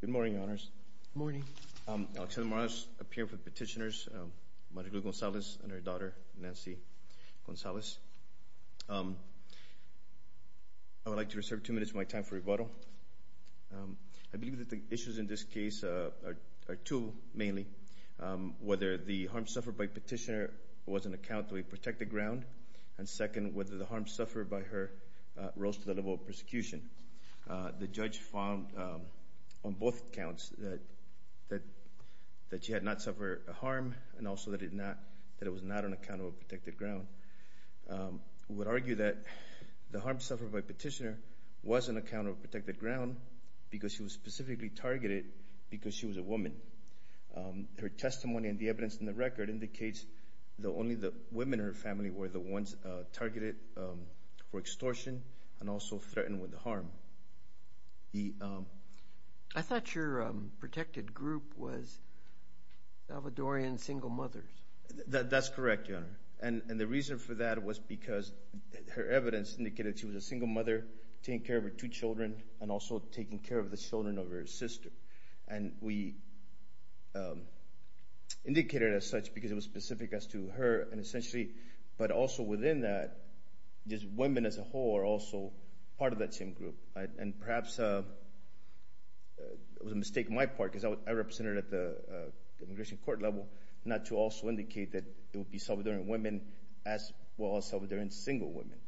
Good morning, Your Honors. Good morning. Alexandra Morales, a peer for petitioners, Marilu Gonzalez and her daughter, Nancy Gonzalez. I would like to reserve two minutes of my time for rebuttal. I believe that the issues in this case are two, mainly, whether the harm suffered by petitioner was an account of a protected ground, and second, whether the harm suffered by her rose to the level of persecution. The judge found on both counts that she had not suffered a harm and also that it was not an account of a protected ground. I would argue that the harm suffered by petitioner was an account of a protected ground because she was specifically targeted because she was a woman. Her testimony and the evidence in the record indicates that only the women in her family were the ones targeted for extortion and also threatened with harm. I thought your protected group was Salvadorian single mothers. That's correct, Your Honor, and the reason for that was because her evidence indicated she was a single mother taking care of her two children and also taking care of the children of her sister. We indicated as such because it was specific as to her and essentially, but also within that, just women as a whole are also part of that same group. Perhaps it was a mistake on my part because I represented at the immigration court level not to also indicate that it would be Salvadorian women as well as Salvadorian single women.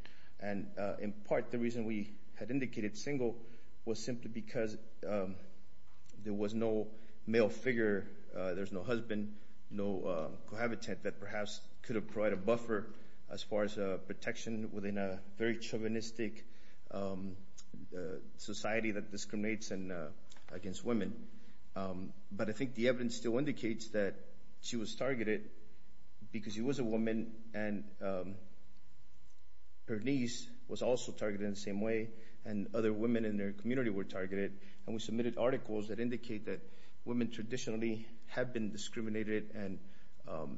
In part, the reason we had indicated single was simply because there was no male figure, there's no husband, no cohabitant that perhaps could have provided a buffer as far as protection within a very chauvinistic society that discriminates against women. But I think the evidence still indicates that she was targeted because she was a woman and her niece was also targeted in the same way and other women in their community were targeted and we submitted articles that indicate that women traditionally have been discriminated and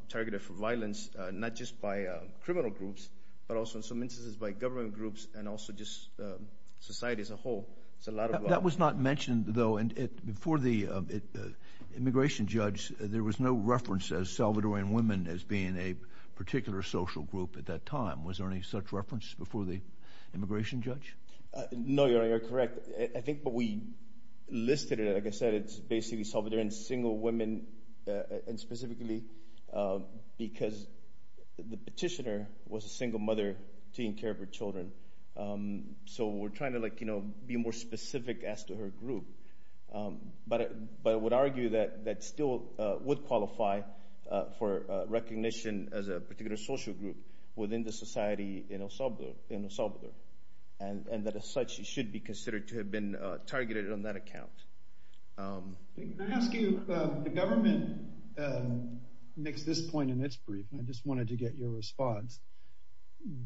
targeted for violence, not just by criminal groups, but also in some instances by government groups and also just society as a whole. That was not mentioned though and before the immigration judge, there was no reference as Salvadorian women as being a particular social group at that time. Was there any such reference before the immigration judge? No, you're correct. I think what we listed, like I said, it's basically Salvadorian single women and specifically because the petitioner was a single mother taking care of her children, so we're trying to be more specific as to her group. But I would argue that still would qualify for recognition as a particular social group within the society in El Salvador and that as such, she should be considered to have been targeted on that account. Can I ask you, the government makes this point in its brief and I just wanted to get your response.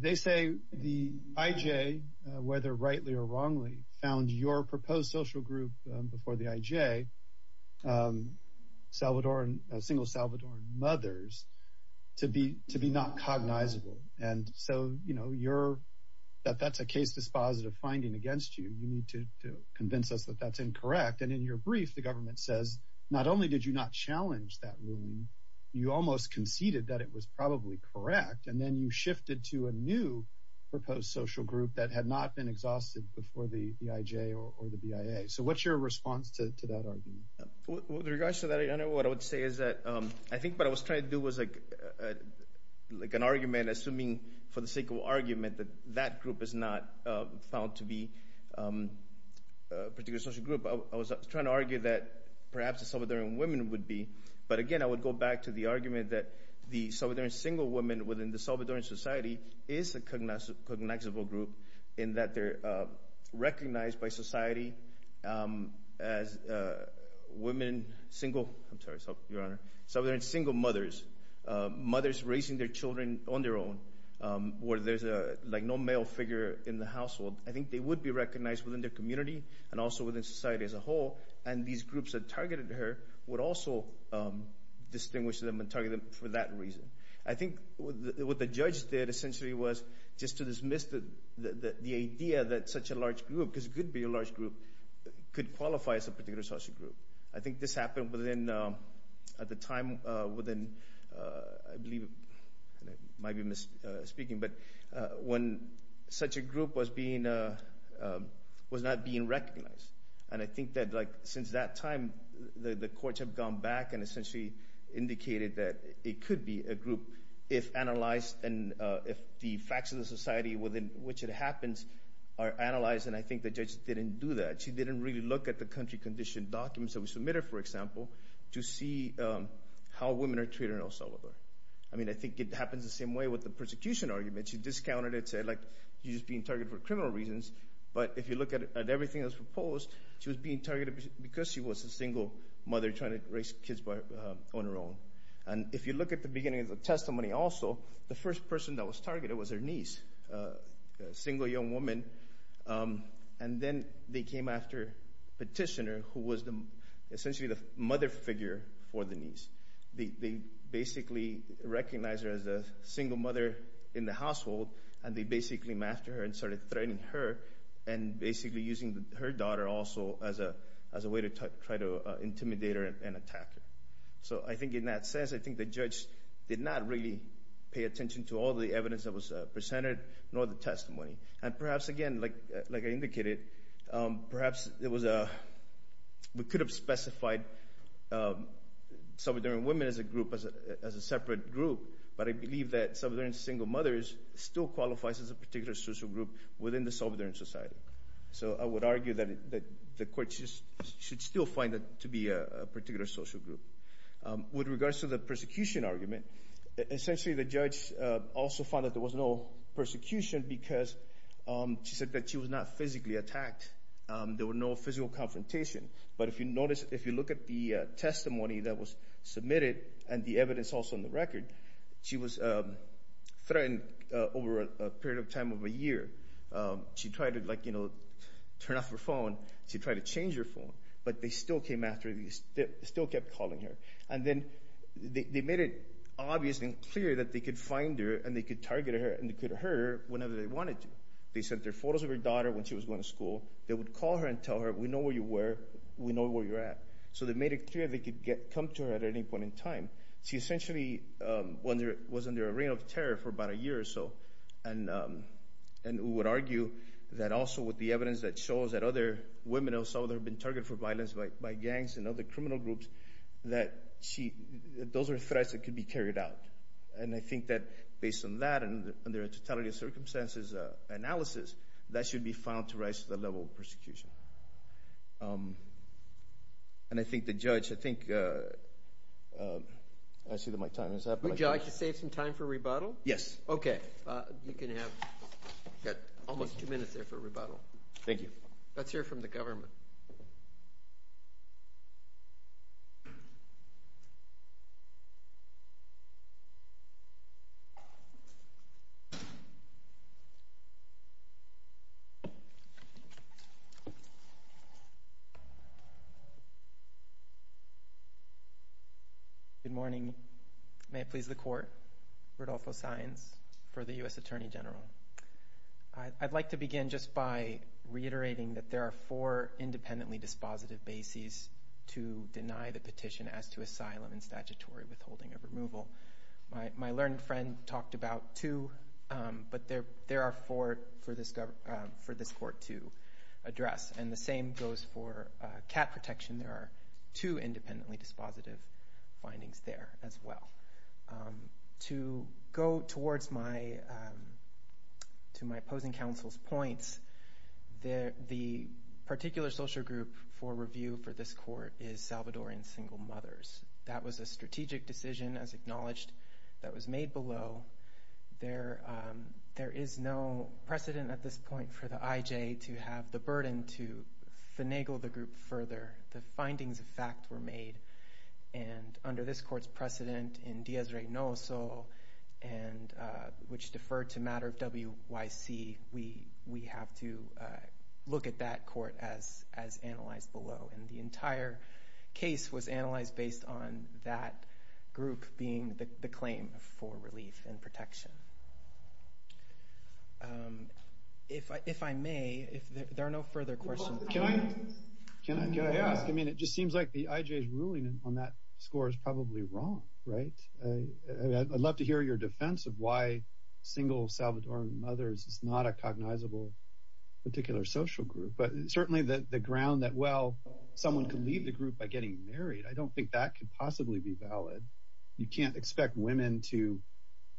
They say the IJ, whether rightly or wrongly, found your proposed social group before the IJ, single Salvadoran mothers, to be not cognizable and so that's a case dispositive finding against you. You need to convince us that that's incorrect and in your brief, the government says not only did you not challenge that ruling, you almost conceded that it was probably correct and then you shifted to a new proposed social group that had not been exhausted before the IJ or the BIA. So what's your response to that argument? With regards to that, what I would say is that I think what I was trying to do was like an argument, assuming for the sake of argument, that that group is not found to be a particular social group. I was trying to argue that perhaps the Salvadoran women would be, but again I would go back to the argument that the Salvadoran single women within the Salvadoran society is a cognizable group in that they're recognized by society as women, single, I'm sorry, your honor, Salvadoran single mothers, mothers raising their children on their own where there's like no male figure in the household. I think they would be recognized within their community and also within society as a whole and these groups that targeted her would also distinguish them and target them for that reason. I think what the judge did essentially was just to dismiss the idea that such a large group, because it could be a large group, could qualify as a particular social group. I think this happened within, at the time, within I believe, I might be speaking, but when such a group was being, was not being recognized and I think that like since that time the courts have gone back and essentially indicated that it could be a group if analyzed and if the facts of the society within which it happens are analyzed and I think the judge didn't do that. She didn't really look at the country condition documents that were submitted, for example, to see how women are treated in El Salvador. I mean I think it happens the same way with the persecution argument. She discounted it, said like you're just being targeted for criminal reasons, but if you look at everything that was proposed, she was being targeted because she was a single mother trying to raise kids on her own and if you look at the beginning of the testimony also, the first person that was targeted was her niece, a single young woman and then they came after Petitioner, who was essentially the mother figure for the niece. They basically recognized her as a single mother in the household and they basically came after her and started threatening her and basically using her daughter also as a way to try to intimidate her and attack her. So I think in that sense, I think the judge did not really pay attention to all the evidence that was presented nor the testimony and perhaps again, like I indicated, perhaps we could have specified Salvadoran women as a group, as a separate group, but I believe that Salvadoran single mothers still qualifies as a particular social group within the Salvadoran society. So I would argue that the court should still find that to be a particular social group. With regards to the persecution argument, essentially the judge also found that there was no persecution because she said that she was not physically attacked. There were no physical confrontation, but if you notice, if you look at the testimony that was submitted and the evidence also in the turn off her phone, she tried to change her phone, but they still came after her. They still kept calling her and then they made it obvious and clear that they could find her and they could target her and they could hurt her whenever they wanted to. They sent their photos of her daughter when she was going to school. They would call her and tell her, we know where you were, we know where you're at. So they made it clear they could come to her at any point in time. She essentially was under a terror for about a year or so. And we would argue that also with the evidence that shows that other women have been targeted for violence by gangs and other criminal groups, that those are threats that could be carried out. And I think that based on that and their totality of circumstances analysis, that should be found to rise to the level of persecution. And I think the judge, I think, I see that my time is up. Would you like to save some time for rebuttal? Yes. Okay, you can have almost two minutes there for rebuttal. Thank you. Let's hear from the government. Good morning. May it please the court. Rodolfo Saenz for the U.S. Attorney General. I'd like to begin just by reiterating that there are four independently dispositive bases to deny the petition as to asylum and statutory withholding of removal. My learned friend talked about two, but there are four for this court to address. And the same goes for cat protection. There are two independently dispositive findings there as well. To go towards my opposing counsel's points, the particular social group for review for this court is Salvadorian single mothers. That was a strategic decision, as acknowledged, that was made below. There is no precedent at this point for the decision that was made. And under this court's precedent in Díaz-Reynoso, which deferred to matter of WYC, we have to look at that court as analyzed below. And the entire case was analyzed based on that group being the claim for relief and protection. If I may, if there are no further questions. Can I ask? I mean, it just seems like the IJ's ruling on that score is probably wrong, right? I'd love to hear your defense of why single Salvadorian mothers is not a cognizable particular social group. But certainly the ground that, well, someone could leave the group by getting married, I don't think that could possibly be valid. You can't expect women to,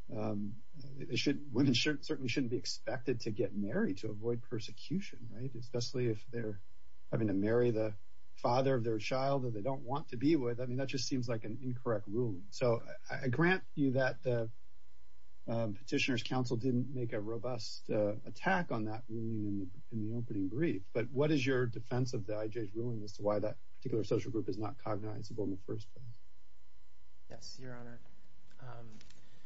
they shouldn't, women certainly shouldn't be expected to get married to avoid persecution, right? Especially if they're having to marry the father of their child that they don't want to be with. I mean, that just seems like an incorrect ruling. So I grant you that the Petitioner's Council didn't make a robust attack on that ruling in the opening brief. But what is your defense of the IJ's ruling as to why that particular social group is not cognizable in the first place? Yes, Your Honor.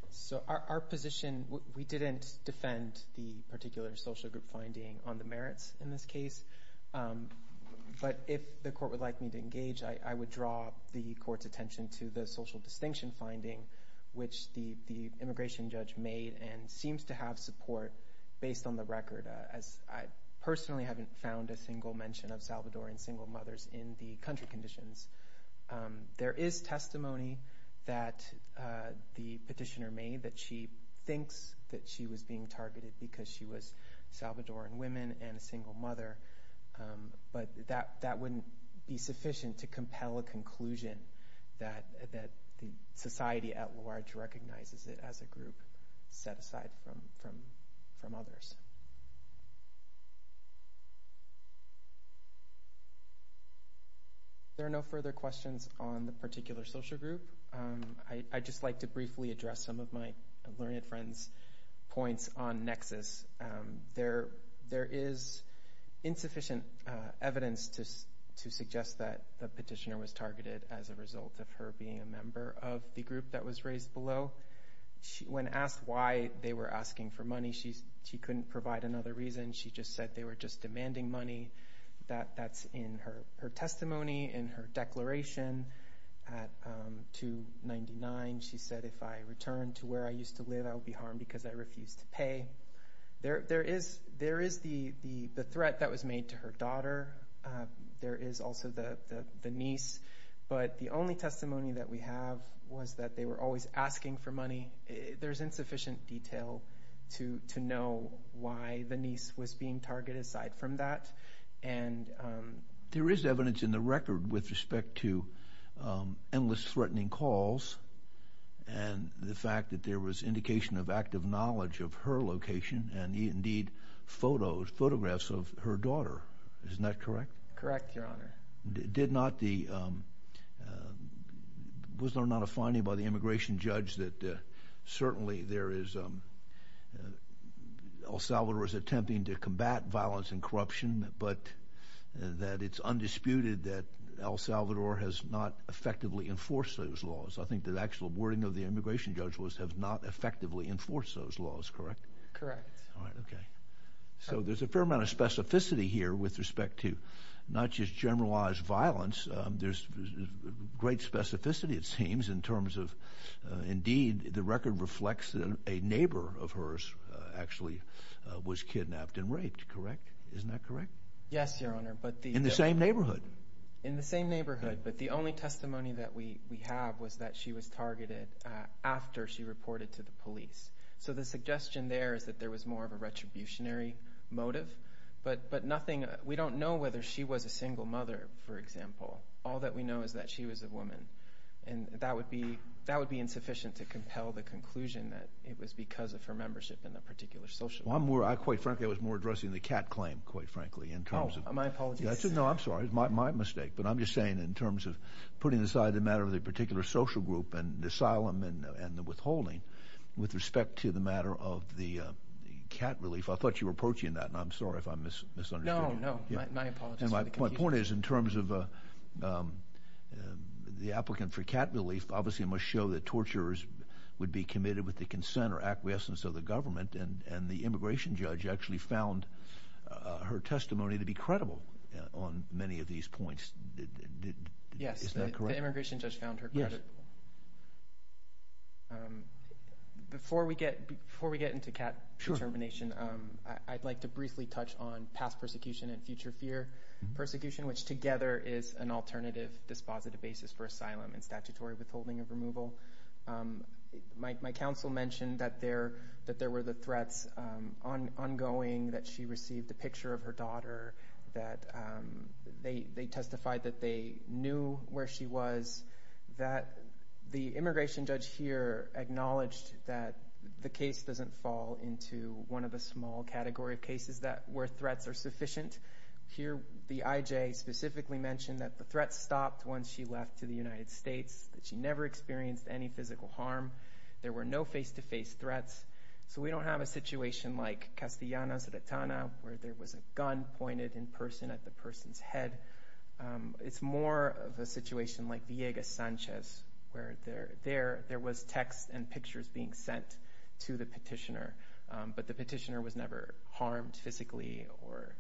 So our position, we didn't defend the particular social group finding on the merits in this case. But if the court would like me to engage, I would draw the court's attention to the social distinction finding, which the immigration judge made and seems to have support based on the record, as I personally haven't found a single mention of Salvadorian single mothers in the country conditions. There is testimony that the petitioner made that she was being targeted because she was Salvadoran women and a single mother. But that wouldn't be sufficient to compel a conclusion that the society at large recognizes it as a group set aside from others. There are no further questions on the particular social group. I'd just like to briefly address some of my learned friends' points on nexus. There is insufficient evidence to suggest that the petitioner was targeted as a result of her being a member of the group that was raised below. When asked why they were asking for money, she couldn't provide another reason. She just said they were just demanding money. That's in her testimony, in her declaration at 299. She said, if I return to where I used to live, I would be harmed because I refused to pay. There is the threat that was made to her daughter. There is also the niece. But the only testimony that we have was that they were always asking for money. There's insufficient detail to know why the niece was being targeted aside from that. And there is evidence in the record with respect to endless threatening calls and the fact that there was indication of active knowledge of her location and indeed photographs of her daughter. Isn't that correct? Correct, Your Honor. Was there not a finding by the immigration judge that certainly El Salvador is attempting to combat violence and corruption, but that it's undisputed that El Salvador has not effectively enforced those laws? I think the actual wording of the immigration judge was, have not effectively enforced those laws, correct? Correct. All right, okay. So there's a fair amount of specificity here with respect to not just generalized violence. There's great specificity, it seems, in terms of, indeed, the record reflects that a neighbor of hers actually was kidnapped and raped, correct? Isn't that correct? Yes, Your Honor. In the same neighborhood? In the same neighborhood. But the only testimony that we have was that she was targeted after she reported to the police. So the suggestion there is that there was more of all that we know is that she was a woman, and that would be insufficient to compel the conclusion that it was because of her membership in a particular social group. Well, I'm more, I quite frankly, I was more addressing the cat claim, quite frankly, in terms of... Oh, my apologies. No, I'm sorry, it's my mistake, but I'm just saying in terms of putting aside the matter of the particular social group and the asylum and the withholding with respect to the matter of the cat relief, I thought you were approaching that, and I'm sorry if I'm wrong. The applicant for cat relief, obviously, must show that torturers would be committed with the consent or acquiescence of the government, and the immigration judge actually found her testimony to be credible on many of these points. Yes, the immigration judge found her credible. Before we get into cat determination, I'd like to briefly touch on past persecution and future fear persecution, which together is an alternative dispositive basis for asylum and statutory withholding of removal. My counsel mentioned that there were the threats ongoing, that she received a picture of her daughter, that they testified that they knew where she was, that the immigration judge here acknowledged that the case doesn't fall into one of the small category of cases where threats are sufficient. Here, the IJ specifically mentioned that the threat stopped once she left to the United States, that she never experienced any physical harm, there were no face-to-face threats, so we don't have a situation like Castellana, Zatanna, where there was a gun pointed in person at the person's head. It's more of a situation like Villegas, Sanchez, where there was text and pictures being sent to the petitioner, but the petitioner was harmed physically or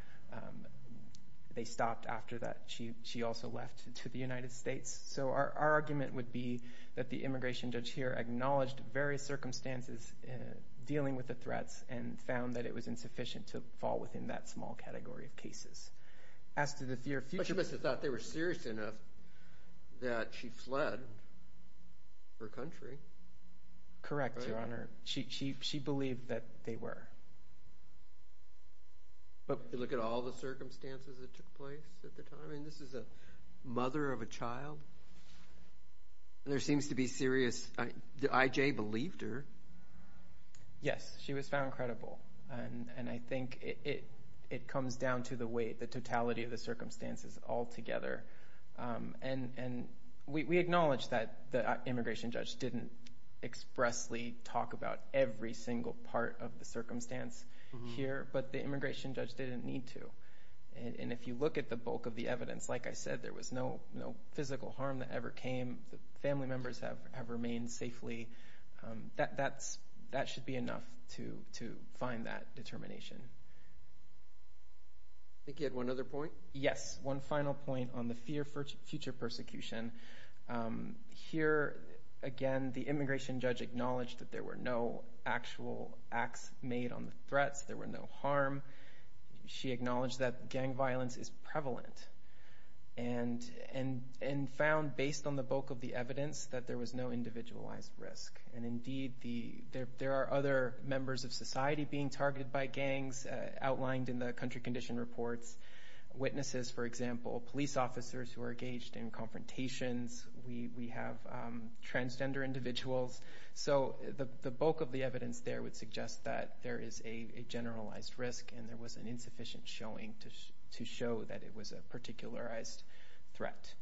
they stopped after that. She also left to the United States, so our argument would be that the immigration judge here acknowledged various circumstances dealing with the threats and found that it was insufficient to fall within that small category of cases. But you must have thought they were serious enough that she fled her country. Correct, Your Honor. She believed that they were. But if you look at all the circumstances that took place at the time, I mean, this is a mother of a child, and there seems to be serious... The IJ believed her? Yes, she was found credible, and I think it comes down to the weight, the totality of the expressly talk about every single part of the circumstance here, but the immigration judge didn't need to. And if you look at the bulk of the evidence, like I said, there was no physical harm that ever came. The family members have remained safely. That should be enough to find that determination. I think you had one other point? Yes, one final point on the fear for future persecution. Here, again, the immigration judge acknowledged that there were no actual acts made on the threats. There were no harm. She acknowledged that gang violence is prevalent and found, based on the bulk of the evidence, that there was no individualized risk. And indeed, there are other members of society being targeted by gangs, outlined in the country condition reports. Witnesses, for example, police officers who are engaged in confrontations. We have transgender individuals. So the bulk of the evidence there would suggest that there is a generalized risk, and there was an insufficient showing to show that it was a particularized threat.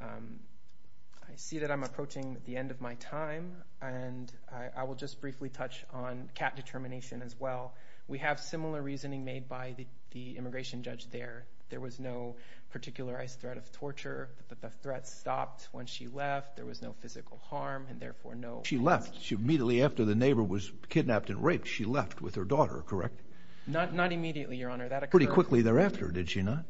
I see that I'm approaching the end of my time, and I will just briefly touch on determination as well. We have similar reasoning made by the immigration judge there. There was no particularized threat of torture. The threat stopped when she left. There was no physical harm, and therefore, no... She left. Immediately after the neighbor was kidnapped and raped, she left with her daughter, correct? Not immediately, Your Honor. That occurred... Pretty quickly thereafter, did she not?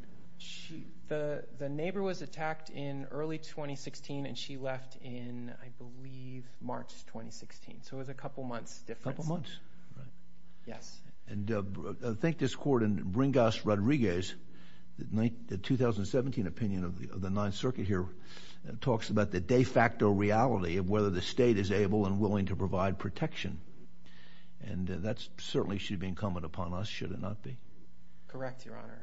The neighbor was attacked in early 2016, and she left in, I believe, March 2016. So it was a couple months difference. A couple months. Right. Yes. And I think this court in Bringas-Rodriguez, the 2017 opinion of the Ninth Circuit here, talks about the de facto reality of whether the state is able and willing to provide protection. And that certainly should be incumbent upon us, should it not be? Correct, Your Honor.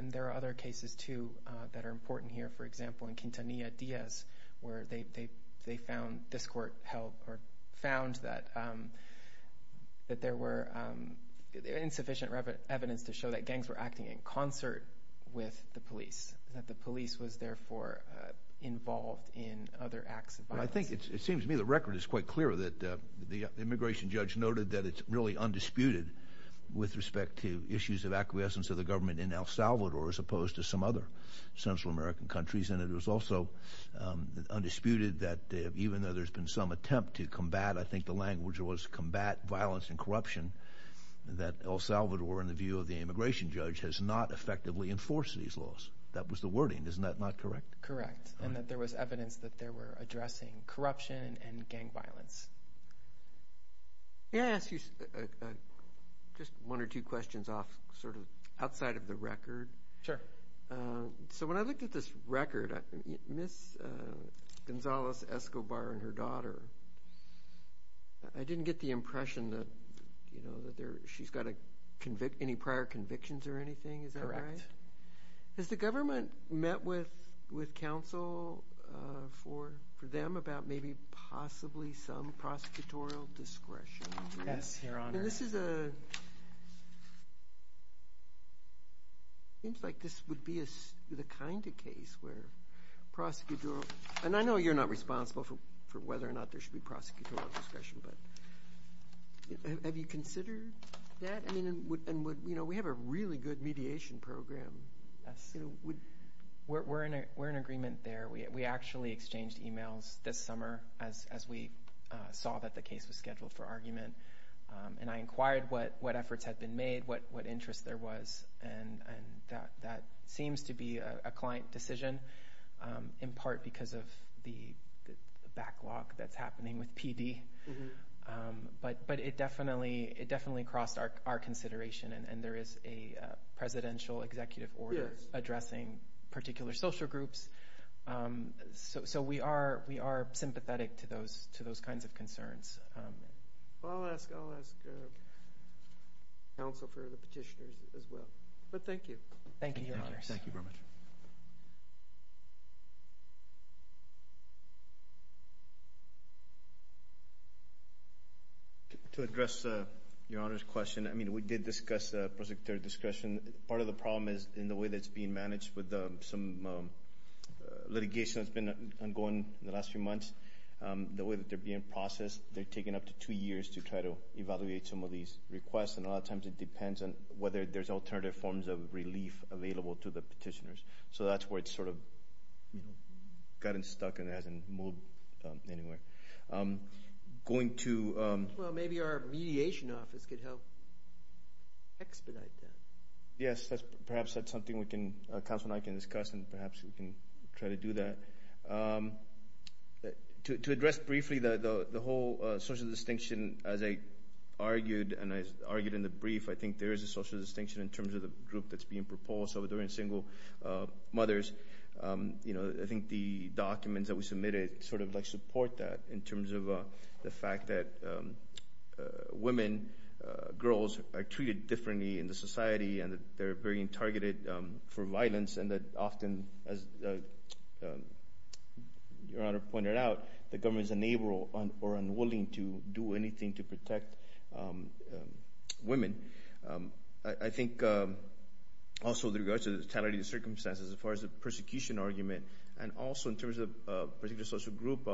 And there are other cases, too, that are important here. For example, in Quintanilla-Diaz, where they found... This court found that there were insufficient evidence to show that gangs were acting in concert with the police, that the police was therefore involved in other acts of violence. I think it seems to me the record is quite clear that the immigration judge noted that it's really undisputed with respect to issues of acquiescence of the government in El Salvador as opposed to other Central American countries. And it was also undisputed that even though there's been some attempt to combat, I think the language was combat violence and corruption, that El Salvador, in the view of the immigration judge, has not effectively enforced these laws. That was the wording. Isn't that not correct? Correct. And that there was evidence that they were addressing corruption and gang violence. May I ask you just one or two questions off, sort of, outside of the record? Sure. So when I looked at this record, Miss Gonzalez-Escobar and her daughter, I didn't get the impression that she's got any prior convictions or anything. Is that right? Correct. Has the government met with counsel for them about maybe possibly some It seems like this would be the kind of case where prosecutorial, and I know you're not responsible for whether or not there should be prosecutorial discretion, but have you considered that? I mean, and would, you know, we have a really good mediation program. Yes. We're in agreement there. We actually exchanged emails this summer as we saw that the case was scheduled for argument. And I inquired what efforts had been made, what interests there was, and that seems to be a client decision, in part because of the backlog that's happening with PD. But it definitely crossed our consideration, and there is a presidential executive order addressing particular social groups. So we are sympathetic to those kinds of concerns. Well, I'll ask counsel for the petitioners as well. But thank you. Thank you, Your Honors. To address Your Honor's question, I mean, we did discuss prosecutorial discretion. Part of the problem is in the way that it's being managed with some litigation that's been ongoing in the last few months. The way that they're being processed, they're taking up to two years to try to evaluate some of these requests, and a lot of times it depends on whether there's alternative forms of relief available to the petitioners. So that's where it's sort of, you know, gotten stuck and hasn't moved anywhere. Going to... Well, maybe our mediation office could help expedite that. Yes, that's perhaps that's something we can, counsel and I can discuss, and perhaps we can try to do that. To address briefly the whole social distinction, as I argued, and I argued in the brief, I think there is a social distinction in terms of the group that's being proposed. So during single mothers, you know, I think the documents that we submitted sort of like support that in terms of the fact that women, girls are being targeted for violence and that often, as Your Honor pointed out, the government is unable or unwilling to do anything to protect women. I think also with regards to the totality of circumstances as far as the persecution argument, and also in terms of particular social group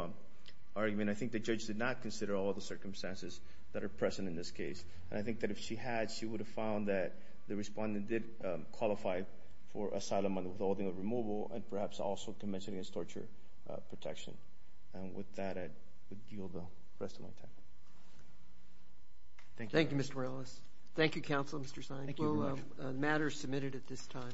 argument, I think the judge did not consider all the circumstances that are present in this case. And I think that if she had, she would have found that the respondent did qualify for asylum and withholding of removal, and perhaps also convention against torture protection. And with that, I would yield the rest of my time. Thank you. Thank you, Mr. Morales. Thank you, counsel, Mr. Sainz. Thank you very much. The matter is submitted at this time.